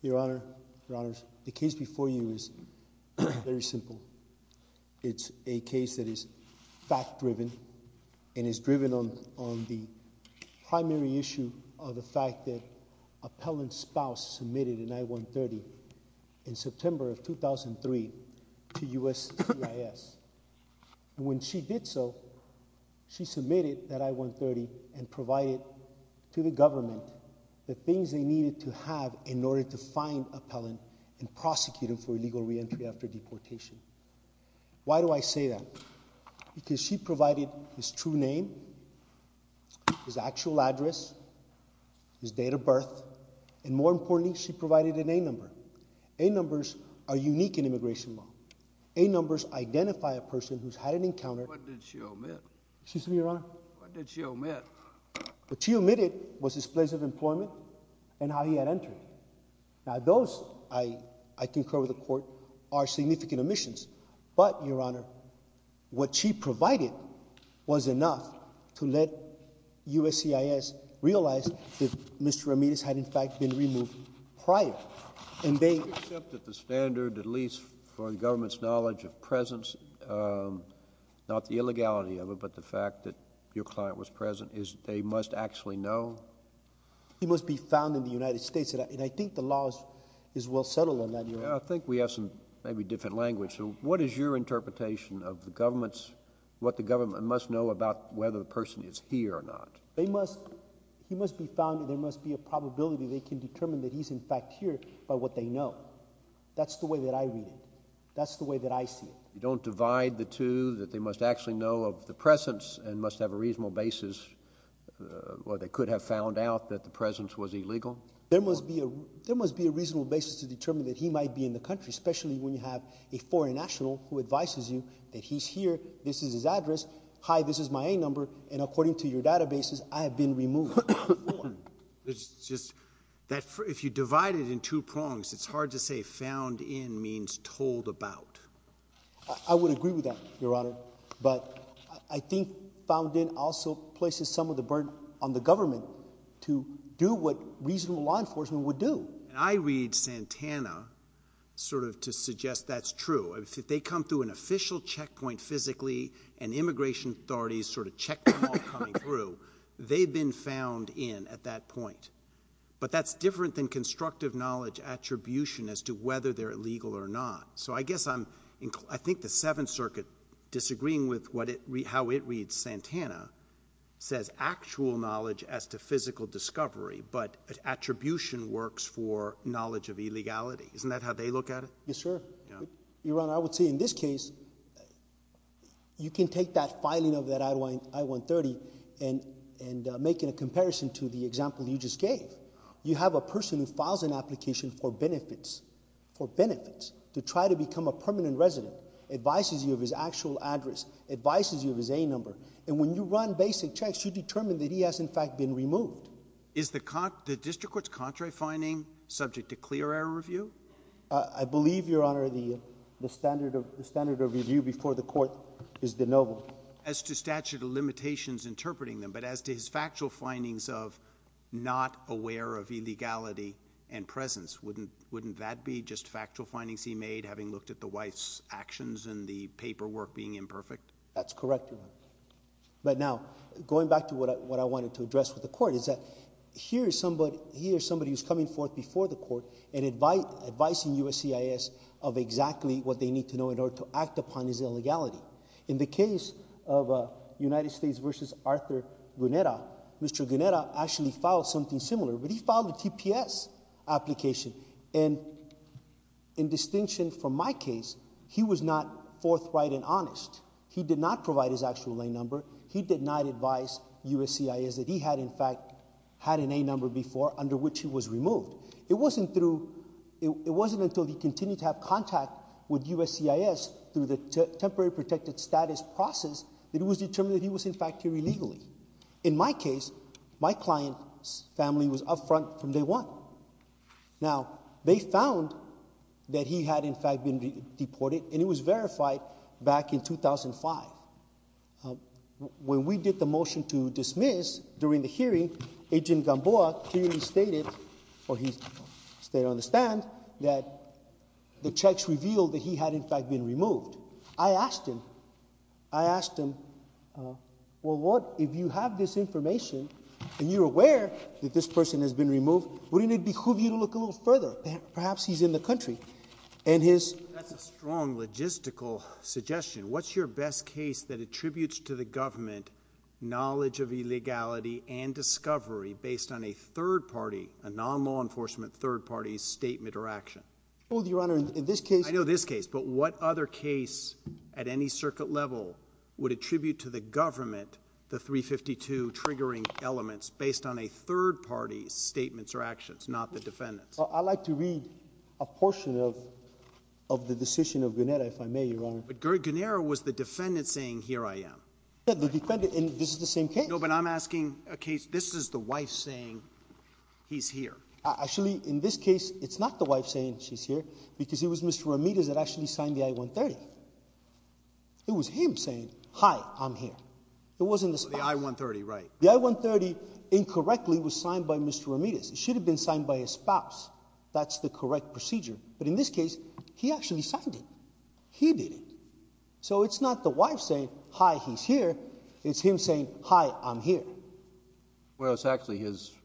Your Honor, Your Honors, the case before you is very simple. It's a case that is fact-driven and is driven on the primary issue of the fact that Appellant's spouse submitted an I-130 in September of 2003 to U.S. CIS. And when she did so, she submitted that I-130 and provided to the government the things they needed to have in order to find Appellant and prosecute him for illegal reentry after deportation. Why do I say that? Because she provided his true name, his actual address, his date of birth, and more importantly, she provided an A-number. A-numbers are unique in immigration law. A-numbers identify a person who's had an encounter. What did she omit? Excuse me, Your Honor. What did she omit? What she omitted was his place of employment and how he had entered. Now, those, I concur with the Court, are significant omissions. But, Your Honor, what she provided was enough to let U.S. CIS realize that Mr. Ramirez had, in fact, been removed prior. And they— Except that the standard, at least for the government's knowledge of presence, not the illegality of it, but the fact that your client was present, is they must actually know? He must be found in the United States, and I think the law is well settled on that, Your Honor. I think we have some maybe different language. So, what is your interpretation of the government's—what the government must know about whether the person is here or not? They must—he must be found, and there must be a probability they can determine that he's, in fact, here by what they know. That's the way that I read it. That's the way that I see it. You don't divide the two, that they must actually know of the presence and must have a reasonable basis, or they could have found out that the presence was illegal? There must be a reasonable basis to determine that he might be in the country, especially when you have a foreign national who advises you that he's here, this is his address, hi, this is my A number, and according to your databases, I have been removed. There's just—if you divide it in two prongs, it's hard to say found in means told about. I would agree with that, Your Honor, but I think found in also places some of the burden on the government to do what reasonable law enforcement would do. I read Santana sort of to suggest that's true. If they come through an official checkpoint physically and immigration authorities sort of check them all coming through, they've been found in at that point. But that's different than constructive knowledge attribution as to whether they're illegal or not. So I guess I'm—I think the Seventh Circuit, disagreeing with how it reads Santana, says actual knowledge as to physical discovery, but attribution works for knowledge of illegality. Isn't that how they look at it? Yes, sir. Your Honor, I would say in this case, you can take that filing of that I-130 and make it a comparison to the example you just gave. You have a person who files an application for benefits, for benefits, to try to become a permanent resident, advises you of his actual address, advises you of his A number. And when you run basic checks, you determine that he has, in fact, been removed. Is the district court's contrary finding subject to clear error review? I believe, Your Honor, the standard of review before the court is de novo. As to statute of limitations interpreting them, but as to his factual findings of not aware of illegality and presence, wouldn't that be just factual findings he made having looked at the wife's actions and the paperwork being imperfect? That's correct, Your Honor. But now, going back to what I wanted to address with the court is that here is somebody who's coming forth before the court and advising USCIS of exactly what they need to know in order to act upon his illegality. In the case of United States v. Arthur Guneta, Mr. Guneta actually filed something similar, but he filed a TPS application. And in distinction from my case, he was not forthright and honest. He did not provide his actual A number. He did not advise USCIS that he had, in fact, had an A number before under which he was removed. It wasn't until he continued to have contact with USCIS through the temporary protected status process that it was determined that he was, in fact, here illegally. In my case, my client's family was up front from day one. Now, they found that he had, in fact, been deported, and it was verified back in 2005. When we did the motion to dismiss during the hearing, Agent Gamboa clearly stated, or he stated on the stand, that the checks revealed that he had, in fact, been removed. I asked him, I asked him, well, what if you have this information and you're aware that this person has been removed, wouldn't it behoove you to look a little further? Perhaps he's in the country. That's a strong logistical suggestion. What's your best case that attributes to the government knowledge of illegality and discovery based on a third party, a non-law enforcement third party's statement or action? Well, Your Honor, in this case— I know this case, but what other case at any circuit level would attribute to the government the 352 triggering elements based on a third party's statements or actions, not the defendant's? I'd like to read a portion of the decision of Guernera, if I may, Your Honor. But Guernera was the defendant saying, here I am. Yeah, the defendant—and this is the same case. No, but I'm asking a case—this is the wife saying, he's here. Actually, in this case, it's not the wife saying, she's here, because it was Mr. Ramirez that actually signed the I-130. It was him saying, hi, I'm here. It wasn't the spouse. The I-130, right. It should have been signed by his spouse. That's the correct procedure. But in this case, he actually signed it. He did it. So it's not the wife saying, hi, he's here. It's him saying, hi, I'm here. Well, it's actually his—the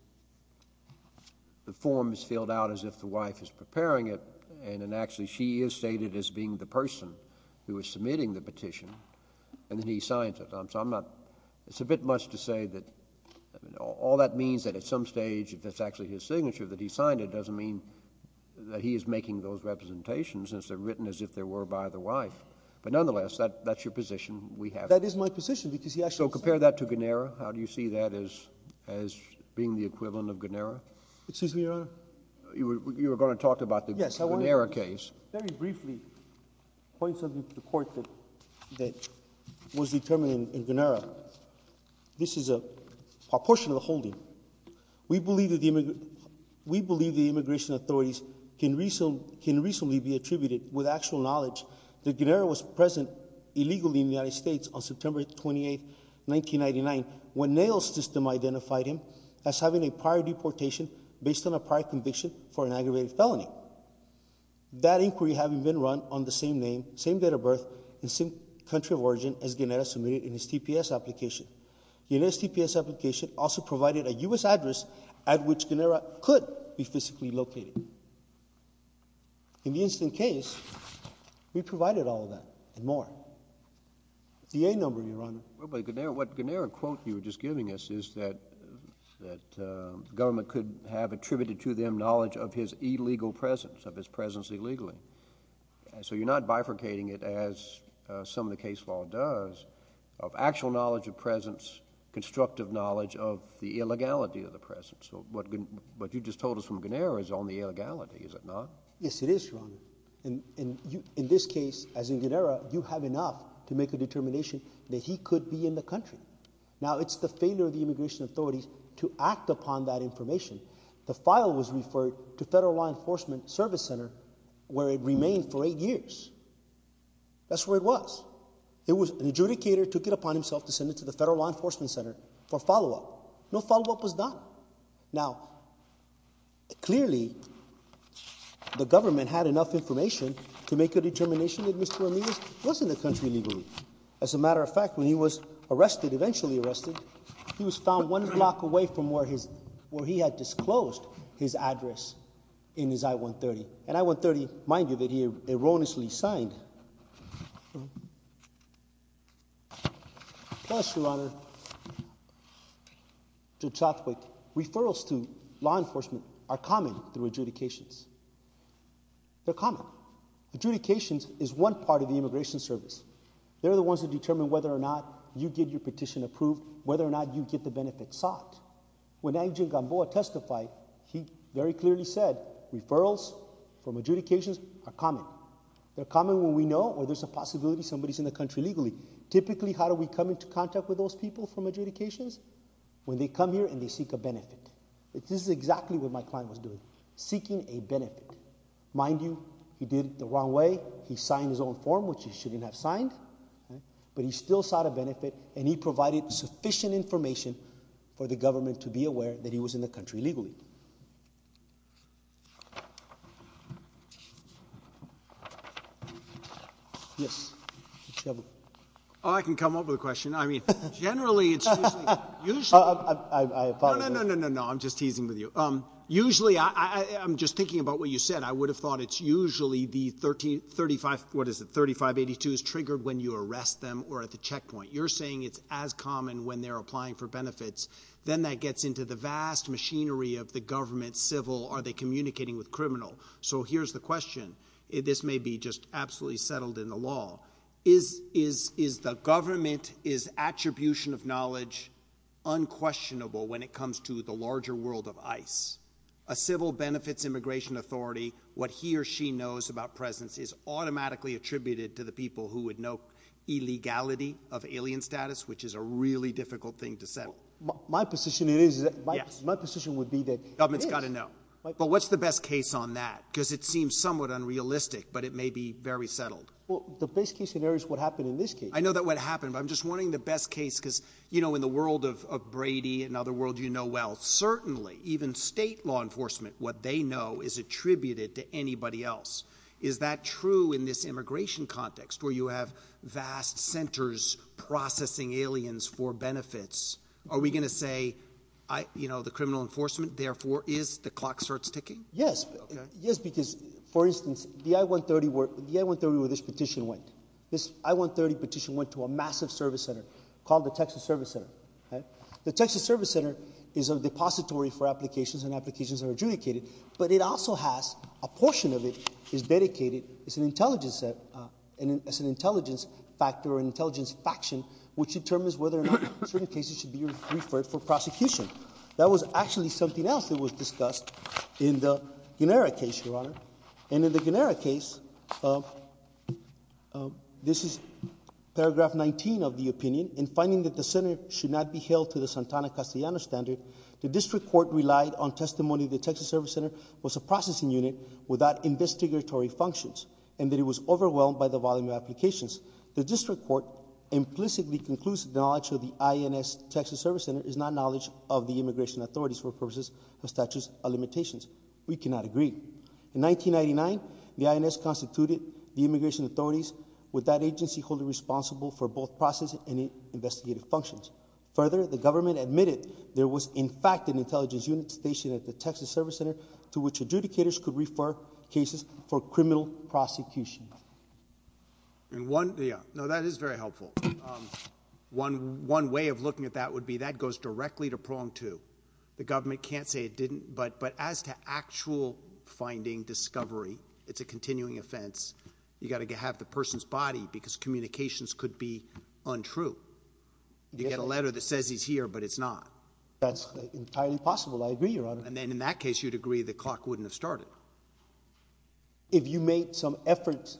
form is filled out as if the wife is preparing it, and then actually she is stated as being the person who is submitting the petition, and then he signs it. So I'm not—it's a bit much to say that all that means that at some stage, if that's actually his signature, that he signed it, doesn't mean that he is making those representations, since they're written as if they were by the wife. But nonetheless, that's your position. That is my position, because he actually— So compare that to Guernera. How do you see that as being the equivalent of Guernera? Excuse me, Your Honor. You were going to talk about the Guernera case. Very briefly, points of view to the court that was determined in Guernera, this is a proportional holding. We believe the immigration authorities can reasonably be attributed with actual knowledge that Guernera was present illegally in the United States on September 28, 1999, when Nail's system identified him as having a prior deportation based on a prior conviction for an aggravated felony. That inquiry having been run on the same name, same date of birth, and same country of origin as Guernera submitted in his TPS application. Guernera's TPS application also provided a U.S. address at which Guernera could be physically located. In the incident case, we provided all of that and more. The A number, Your Honor. What Guernera quote you were just giving us is that the government could have attributed to them knowledge of his illegal presence, of his presence illegally. So you're not bifurcating it as some of the case law does of actual knowledge of presence, constructive knowledge of the illegality of the presence. What you just told us from Guernera is on the illegality, is it not? In this case, as in Guernera, you have enough to make a determination that he could be in the country. Now, it's the failure of the immigration authorities to act upon that information. The file was referred to Federal Law Enforcement Service Center where it remained for eight years. That's where it was. An adjudicator took it upon himself to send it to the Federal Law Enforcement Center for follow-up. No follow-up was done. Now, clearly, the government had enough information to make a determination that Mr. Ramirez was in the country illegally. As a matter of fact, when he was arrested, eventually arrested, he was found one block away from where he had disclosed his address in his I-130. And I-130, mind you, that he erroneously signed. Yes, Your Honor. Judge Rothwick, referrals to law enforcement are common through adjudications. They're common. Adjudications is one part of the immigration service. They're the ones that determine whether or not you get your petition approved, whether or not you get the benefits sought. When Angel Gamboa testified, he very clearly said, referrals from adjudications are common. They're common when we know or there's a possibility somebody's in the country illegally. Typically, how do we come into contact with those people from adjudications? When they come here and they seek a benefit. This is exactly what my client was doing, seeking a benefit. Mind you, he did it the wrong way. He signed his own form, which he shouldn't have signed. But he still sought a benefit, and he provided sufficient information for the government to be aware that he was in the country illegally. Yes. Oh, I can come up with a question. I mean, generally, it's usually... I apologize. No, no, no, no, no. I'm just teasing with you. Usually, I'm just thinking about what you said. I would have thought it's usually the 3582s triggered when you arrest them or at the checkpoint. You're saying it's as common when they're applying for benefits. Then that gets into the vast machinery of the government, civil, are they communicating with criminal. So here's the question. This may be just absolutely settled in the law. Is the government, is attribution of knowledge unquestionable when it comes to the larger world of ICE? A civil benefits immigration authority, what he or she knows about presence is automatically attributed to the people who would know illegality of alien status, which is a really difficult thing to settle. My position is that... Yes. My position would be that... Government's got to know. But what's the best case on that? Because it seems somewhat unrealistic, but it may be very settled. Well, the best case scenario is what happened in this case. I know that what happened, but I'm just wondering the best case because, you know, in the world of Brady and other world you know well. Certainly, even state law enforcement, what they know is attributed to anybody else. Is that true in this immigration context where you have vast centers processing aliens for benefits? Are we going to say, you know, the criminal enforcement therefore is the clock starts ticking? Yes. Yes, because, for instance, the I-130 where this petition went. This I-130 petition went to a massive service center called the Texas Service Center. The Texas Service Center is a depository for applications and applications are adjudicated. But it also has a portion of it is dedicated as an intelligence factor or an intelligence faction which determines whether or not certain cases should be referred for prosecution. That was actually something else that was discussed in the Guinera case, Your Honor. And in the Guinera case, this is paragraph 19 of the opinion. In finding that the center should not be held to the Santana-Castellano standard, the district court relied on testimony that the Texas Service Center was a processing unit without investigatory functions. And that it was overwhelmed by the volume of applications. The district court implicitly concludes that the knowledge of the INS Texas Service Center is not knowledge of the immigration authorities for purposes of statutes of limitations. We cannot agree. In 1999, the INS constituted the immigration authorities with that agency holding responsible for both processing and investigative functions. Further, the government admitted there was, in fact, an intelligence unit stationed at the Texas Service Center to which adjudicators could refer cases for criminal prosecution. And one, yeah, no, that is very helpful. One way of looking at that would be that goes directly to prong two. The government can't say it didn't, but as to actual finding discovery, it's a continuing offense. You got to have the person's body because communications could be untrue. You get a letter that says he's here, but it's not. That's entirely possible. I agree, Your Honor. And then in that case, you'd agree the clock wouldn't have started. If you made some efforts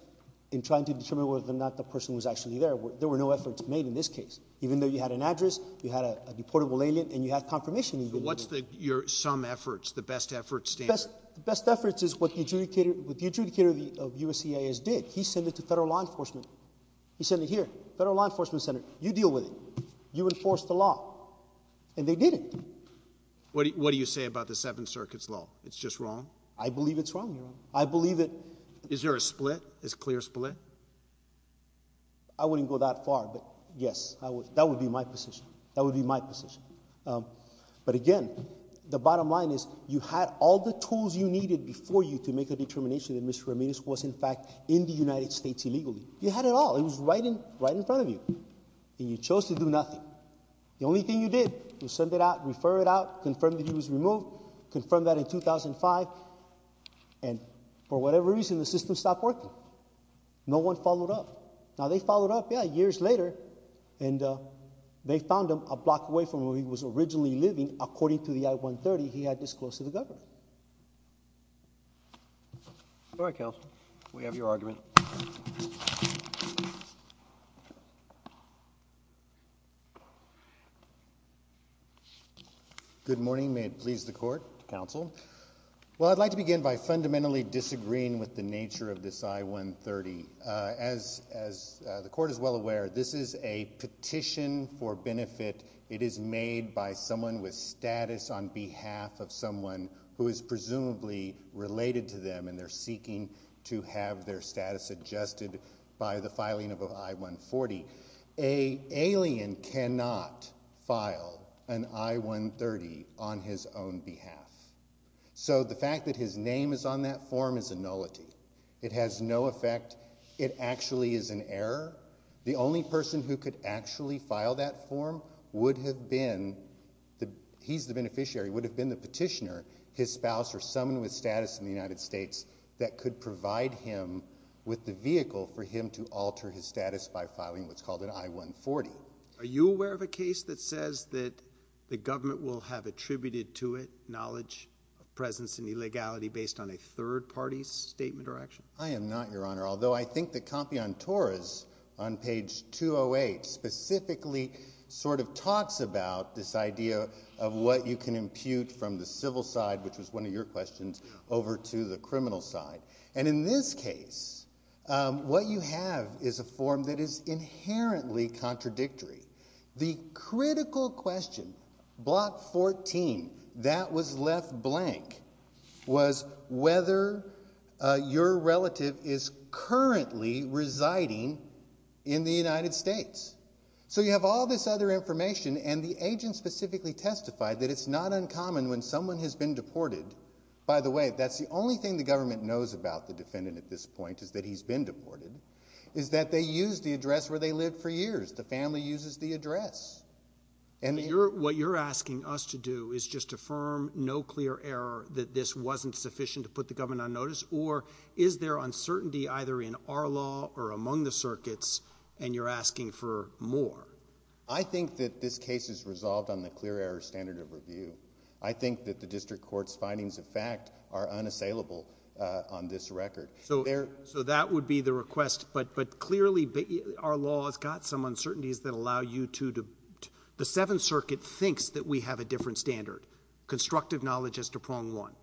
in trying to determine whether or not the person was actually there, there were no efforts made in this case. Even though you had an address, you had a deportable alien, and you had confirmation. So what's your some efforts, the best efforts stand? The best efforts is what the adjudicator of USCIS did. He sent it to federal law enforcement. He sent it here, federal law enforcement center. You deal with it. You enforce the law. And they did it. What do you say about the Seventh Circuit's law? It's just wrong? I believe it's wrong, Your Honor. I believe it. Is there a split, a clear split? I wouldn't go that far, but, yes, that would be my position. That would be my position. But, again, the bottom line is you had all the tools you needed before you to make a determination that Mr. Ramirez was, in fact, in the United States illegally. You had it all. It was right in front of you. And you chose to do nothing. The only thing you did was send it out, refer it out, confirm that he was removed, confirm that in 2005, and for whatever reason, the system stopped working. No one followed up. Now, they followed up, yeah, years later, and they found him a block away from where he was originally living. According to the I-130, he had disclosed to the government. All right, counsel. We have your argument. Good morning. May it please the court, counsel. Well, I'd like to begin by fundamentally disagreeing with the nature of this I-130. As the court is well aware, this is a petition for benefit. It is made by someone with status on behalf of someone who is presumably related to them, and they're seeking to have their status adjusted by the filing of an I-140. An alien cannot file an I-130 on his own behalf. So the fact that his name is on that form is a nullity. It has no effect. It actually is an error. The only person who could actually file that form would have been, he's the beneficiary, would have been the petitioner, his spouse or someone with status in the United States that could provide him with the vehicle for him to alter his status by filing what's called an I-140. Are you aware of a case that says that the government will have attributed to it knowledge of presence and illegality based on a third party's statement or action? Well, I'm not an expert on this matter, although I think the Compianturas on page 208 specifically sort of talks about this idea of what you can impute from the civil side, which was one of your questions, over to the criminal side. And in this case, what you have is a form that is inherently contradictory. The critical question, block 14, that was left blank was whether your relative is currently residing in the United States. So you have all this other information, and the agent specifically testified that it's not uncommon when someone has been deported. By the way, that's the only thing the government knows about the defendant at this point is that he's been deported, is that they used the address where they lived for years. The family uses the address. What you're asking us to do is just affirm no clear error that this wasn't sufficient to put the government on notice? Or is there uncertainty either in our law or among the circuits, and you're asking for more? I think that this case is resolved on the clear error standard of review. I think that the district court's findings of fact are unassailable on this record. So that would be the request. But clearly, our law has got some uncertainties that allow you to – the Seventh Circuit thinks that we have a different standard. Constructive knowledge is to prong one.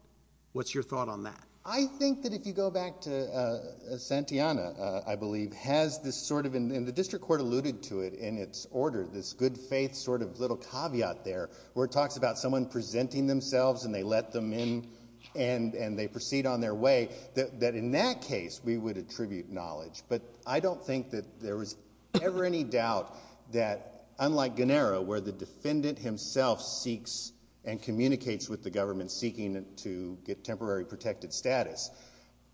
What's your thought on that? I think that if you go back to Santillana, I believe, has this sort of – and the district court alluded to it in its order, this good-faith sort of little caveat there where it talks about someone presenting themselves and they let them in and they proceed on their way. That in that case, we would attribute knowledge. But I don't think that there was ever any doubt that, unlike Gunnera, where the defendant himself seeks and communicates with the government seeking to get temporary protected status,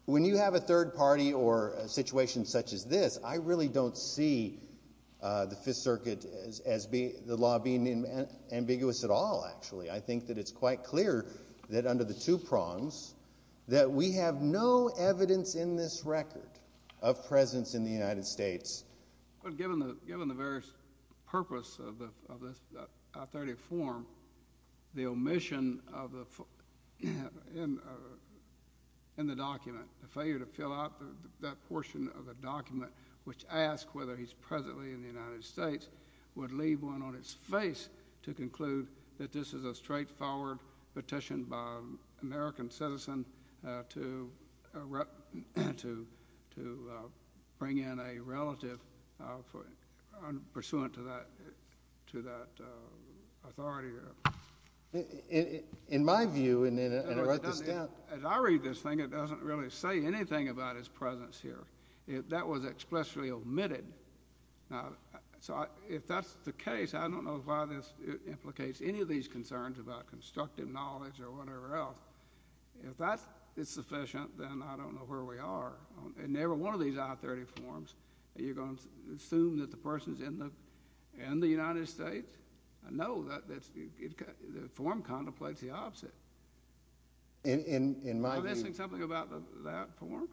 when you have a third party or a situation such as this, I really don't see the Fifth Circuit as the law being ambiguous at all, actually. I think that it's quite clear that under the two prongs that we have no evidence in this record of presence in the United States. But given the various purpose of this authoritative form, the omission in the document, the failure to fill out that portion of the document which asks whether he's presently in the United States would leave one on its face to conclude that this is a straightforward petition by an American citizen to bring in a relative pursuant to that authority. In my view, and to write this down. As I read this thing, it doesn't really say anything about his presence here. That was expressly omitted. So if that's the case, I don't know why this implicates any of these concerns about constructive knowledge or whatever else. If that is sufficient, then I don't know where we are. In every one of these authoritative forms, are you going to assume that the person is in the United States? No, the form contemplates the opposite. In my view. Are you missing something about that form?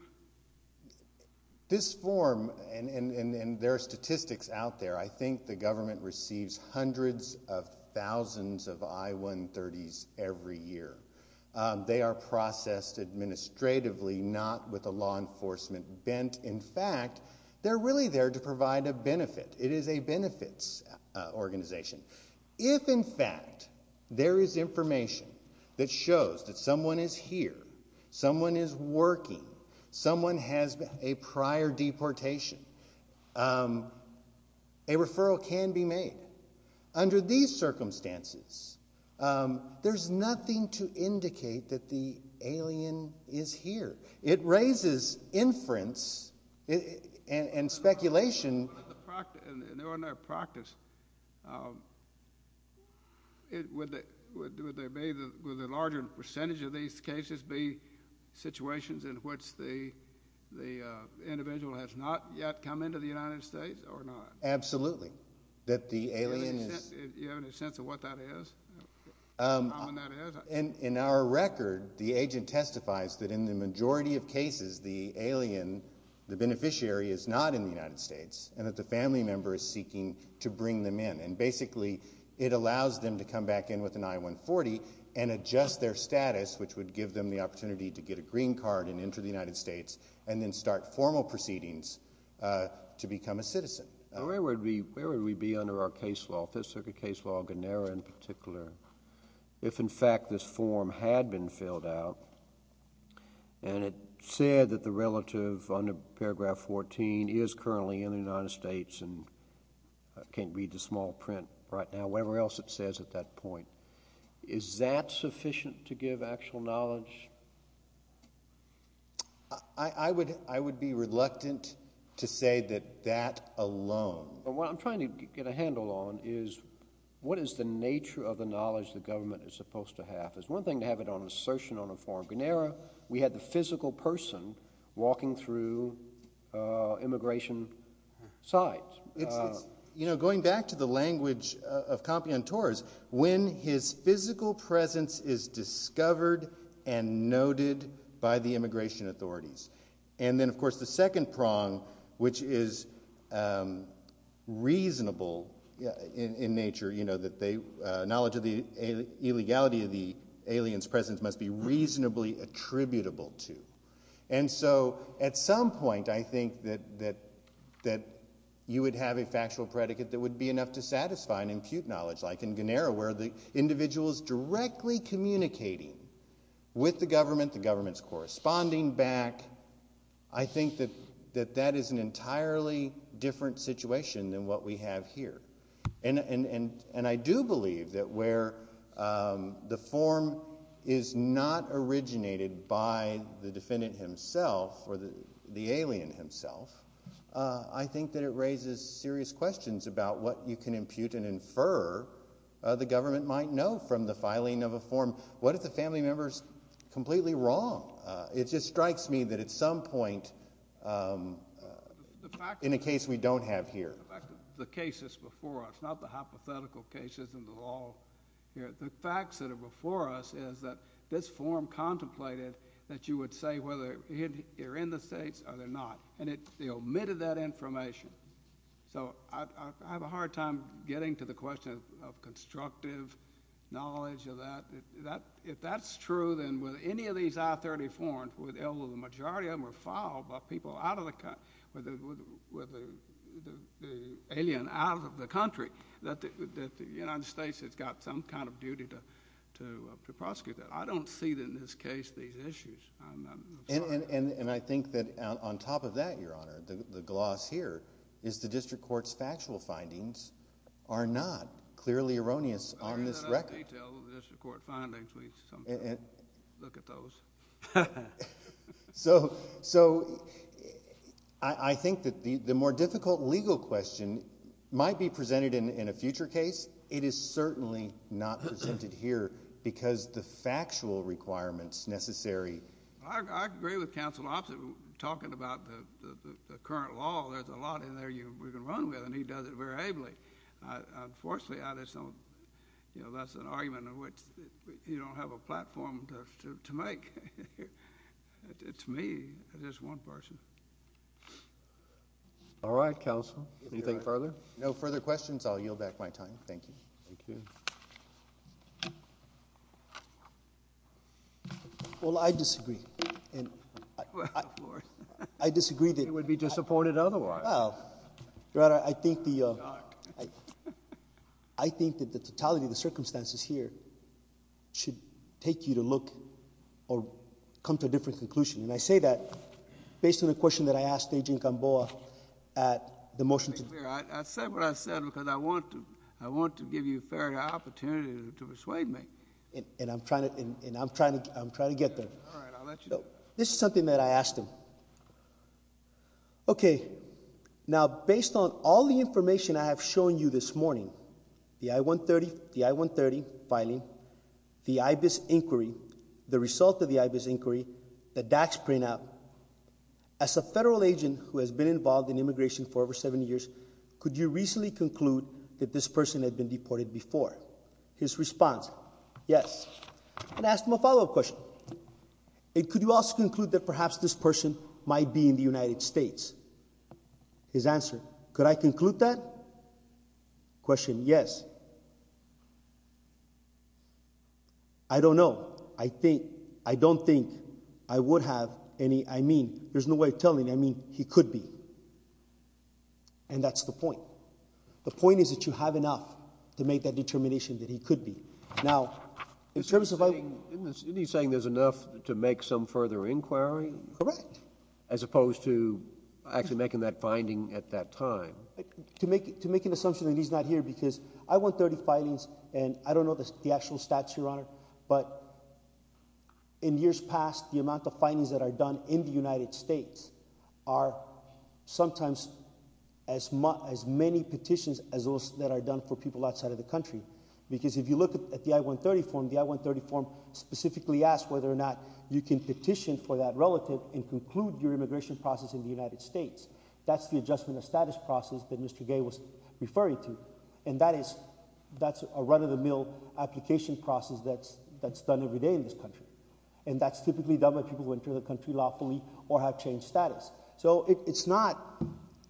This form, and there are statistics out there, I think the government receives hundreds of thousands of I-130s every year. They are processed administratively, not with the law enforcement bent. In fact, they're really there to provide a benefit. It is a benefits organization. If, in fact, there is information that shows that someone is here, someone is working, someone has a prior deportation, a referral can be made. Under these circumstances, there's nothing to indicate that the alien is here. It raises inference and speculation. In ordinary practice, would the larger percentage of these cases be situations in which the individual has not yet come into the United States or not? Absolutely. Do you have any sense of what that is? In our record, the agent testifies that in the majority of cases, the alien, the beneficiary, is not in the United States and that the family member is seeking to bring them in. Basically, it allows them to come back in with an I-140 and adjust their status, which would give them the opportunity to get a green card and enter the United States and then start formal proceedings to become a citizen. Where would we be under our case law, Fifth Circuit case law, Gennaro in particular, if, in fact, this form had been filled out and it said that the relative under paragraph 14 is currently in the United States and can't read the small print right now, whatever else it says at that point? Is that sufficient to give actual knowledge? I would be reluctant to say that that alone. What I'm trying to get a handle on is what is the nature of the knowledge the government is supposed to have. It's one thing to have it on assertion on a form. Gennaro, we had the physical person walking through immigration sites. Going back to the language of compiantores, when his physical presence is discovered and noted by the immigration authorities. Then, of course, the second prong, which is reasonable in nature, knowledge of the illegality of the alien's presence must be reasonably attributable to. At some point, I think that you would have a factual predicate that would be enough to satisfy and impute knowledge. Like in Gennaro, where the individual is directly communicating with the government, the government's corresponding back. I think that that is an entirely different situation than what we have here. I do believe that where the form is not originated by the defendant himself or the alien himself, I think that it raises serious questions about what you can impute and infer the government might know from the filing of a form. What if the family member is completely wrong? It just strikes me that at some point, in a case we don't have here. In fact, the cases before us, not the hypothetical cases in the law. The facts that are before us is that this form contemplated that you would say whether they're in the States or they're not. They omitted that information. I have a hard time getting to the question of constructive knowledge of that. If that's true, then with any of these I-34, although the majority of them were filed by people out of the country, with the alien out of the country, that the United States has got some kind of duty to prosecute that. I don't see, in this case, these issues. And I think that on top of that, Your Honor, the gloss here is the district court's factual findings are not clearly erroneous on this record. We don't go into the details of the district court findings. We sometimes look at those. So I think that the more difficult legal question might be presented in a future case. It is certainly not presented here because the factual requirements necessary. I agree with Counsel Oppsitt talking about the current law. There's a lot in there we can run with, and he does it very ably. Unfortunately, that's an argument in which you don't have a platform to make. To me, it is one person. All right, Counsel. Anything further? No further questions. I'll yield back my time. Thank you. Thank you. Well, I disagree. Well, of course. I disagree. You would be disappointed otherwise. Well, Your Honor, I think that the totality of the circumstances here should take you to look or come to a different conclusion. And I say that based on the question that I asked Agent Gamboa at the motion. Let me be clear. I said what I said because I want to give you a fair opportunity to persuade me. And I'm trying to get there. All right, I'll let you know. This is something that I asked him. Okay. Now, based on all the information I have shown you this morning, the I-130 filing, the IBIS inquiry, the result of the IBIS inquiry, the DAX printout, as a federal agent who has been involved in immigration for over 70 years, could you reasonably conclude that this person had been deported before? His response, yes. And I asked him a follow-up question. And could you also conclude that perhaps this person might be in the United States? His answer, could I conclude that? Question, yes. I don't know. I don't think I would have any – I mean, there's no way of telling. I mean, he could be. And that's the point. The point is that you have enough to make that determination that he could be. Now, in terms of – Isn't he saying there's enough to make some further inquiry? Correct. As opposed to actually making that finding at that time. To make an assumption that he's not here because I want 30 filings, and I don't know the actual stats, Your Honor, but in years past, the amount of filings that are done in the United States are sometimes as many petitions as those that are done for people outside of the country. Because if you look at the I-130 form, the I-130 form specifically asks whether or not you can petition for that relative and conclude your immigration process in the United States. That's the adjustment of status process that Mr. Gay was referring to. And that is – that's a run-of-the-mill application process that's done every day in this country. And that's typically done by people who enter the country lawfully or have changed status. So it's not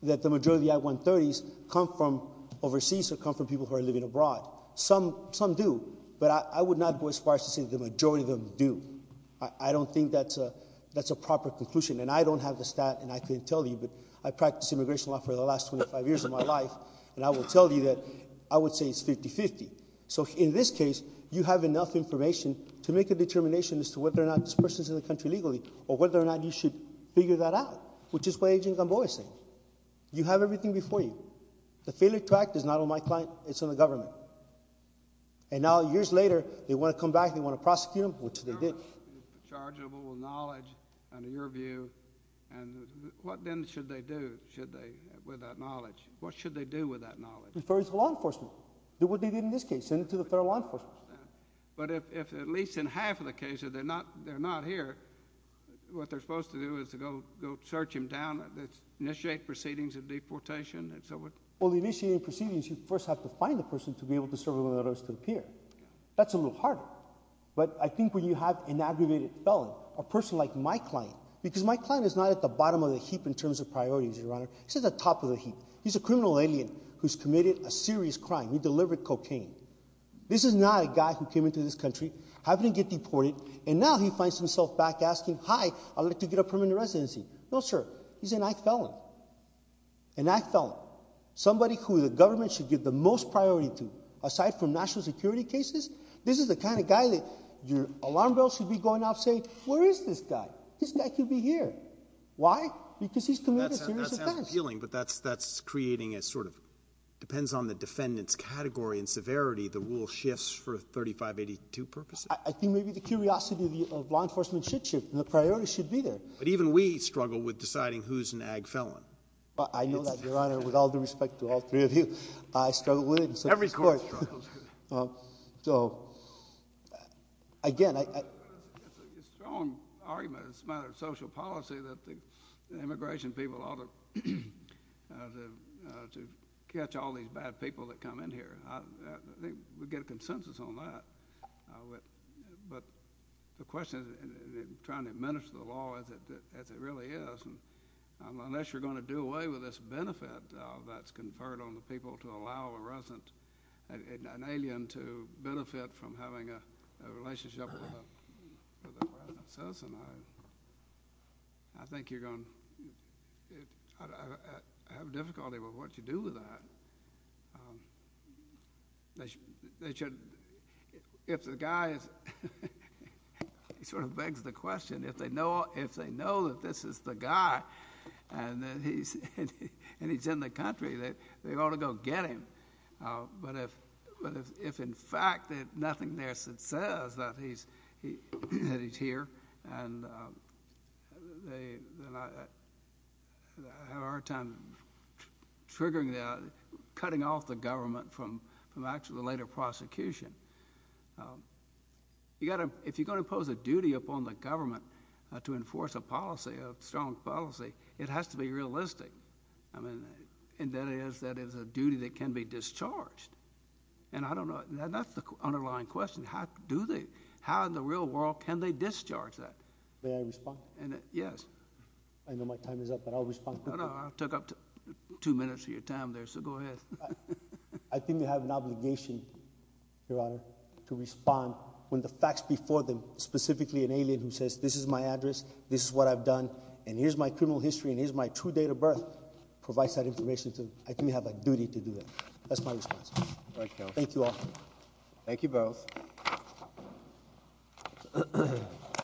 that the majority of the I-130s come from overseas or come from people who are living abroad. Some do. But I would not go as far as to say the majority of them do. I don't think that's a proper conclusion. And I don't have the stat, and I can't tell you, but I practiced immigration law for the last 25 years of my life, and I will tell you that I would say it's 50-50. So in this case, you have enough information to make a determination as to whether or not this person is in the country legally or whether or not you should figure that out, which is what Agent Gamboa is saying. You have everything before you. The failure to act is not on my client. It's on the government. And now, years later, they want to come back, they want to prosecute them, which they did. Chargeable with knowledge, under your view, and what then should they do with that knowledge? What should they do with that knowledge? Refer it to law enforcement. Do what they did in this case. Send it to the federal law enforcement. But if at least in half of the cases they're not here, what they're supposed to do is to go search him down, initiate proceedings of deportation and so forth? Well, the initiated proceedings, you first have to find the person to be able to serve on the list to appear. That's a little harder. But I think when you have an aggravated felon, a person like my client, because my client is not at the bottom of the heap in terms of priorities, Your Honor. He's at the top of the heap. He's a criminal alien who's committed a serious crime. He delivered cocaine. This is not a guy who came into this country, happened to get deported, and now he finds himself back asking, hi, I'd like to get a permanent residency. No, sir. He's a knife felon. A knife felon. Somebody who the government should give the most priority to. Aside from national security cases, this is the kind of guy that your alarm bell should be going off saying, where is this guy? This guy could be here. Why? Because he's committed a serious offense. That's appealing, but that's creating a sort of, depends on the defendant's category and severity, the rule shifts for 3582 purposes. I think maybe the curiosity of law enforcement should shift, and the priority should be there. But even we struggle with deciding who's an ag felon. I know that, Your Honor, with all due respect to all three of you. I struggle with it. Every court struggles with it. So, again. It's a strong argument. It's a matter of social policy that the immigration people ought to catch all these bad people that come in here. I think we get a consensus on that. But the question is, in trying to administer the law as it really is, unless you're going to do away with this benefit that's conferred on the people to allow a resident, an alien, to benefit from having a relationship with a citizen, I think you're going to have difficulty with what you do with that. If the guy is, he sort of begs the question, if they know that this is the guy and he's in the country, they ought to go get him. But if, in fact, there's nothing there that says that he's here, then I have a hard time triggering that, cutting off the government from actually the later prosecution. If you're going to impose a duty upon the government to enforce a policy, a strong policy, it has to be realistic. And that is, that is a duty that can be discharged. And I don't know, that's the underlying question. How do they, how in the real world can they discharge that? May I respond? Yes. I know my time is up, but I'll respond. No, no, I took up two minutes of your time there, so go ahead. I think we have an obligation, Your Honor, to respond when the facts before them, specifically an alien who says, this is my address, this is what I've done, and here's my criminal history, and here's my true date of birth, provides that information. I think we have a duty to do that. That's my response. Thank you all. Thank you both.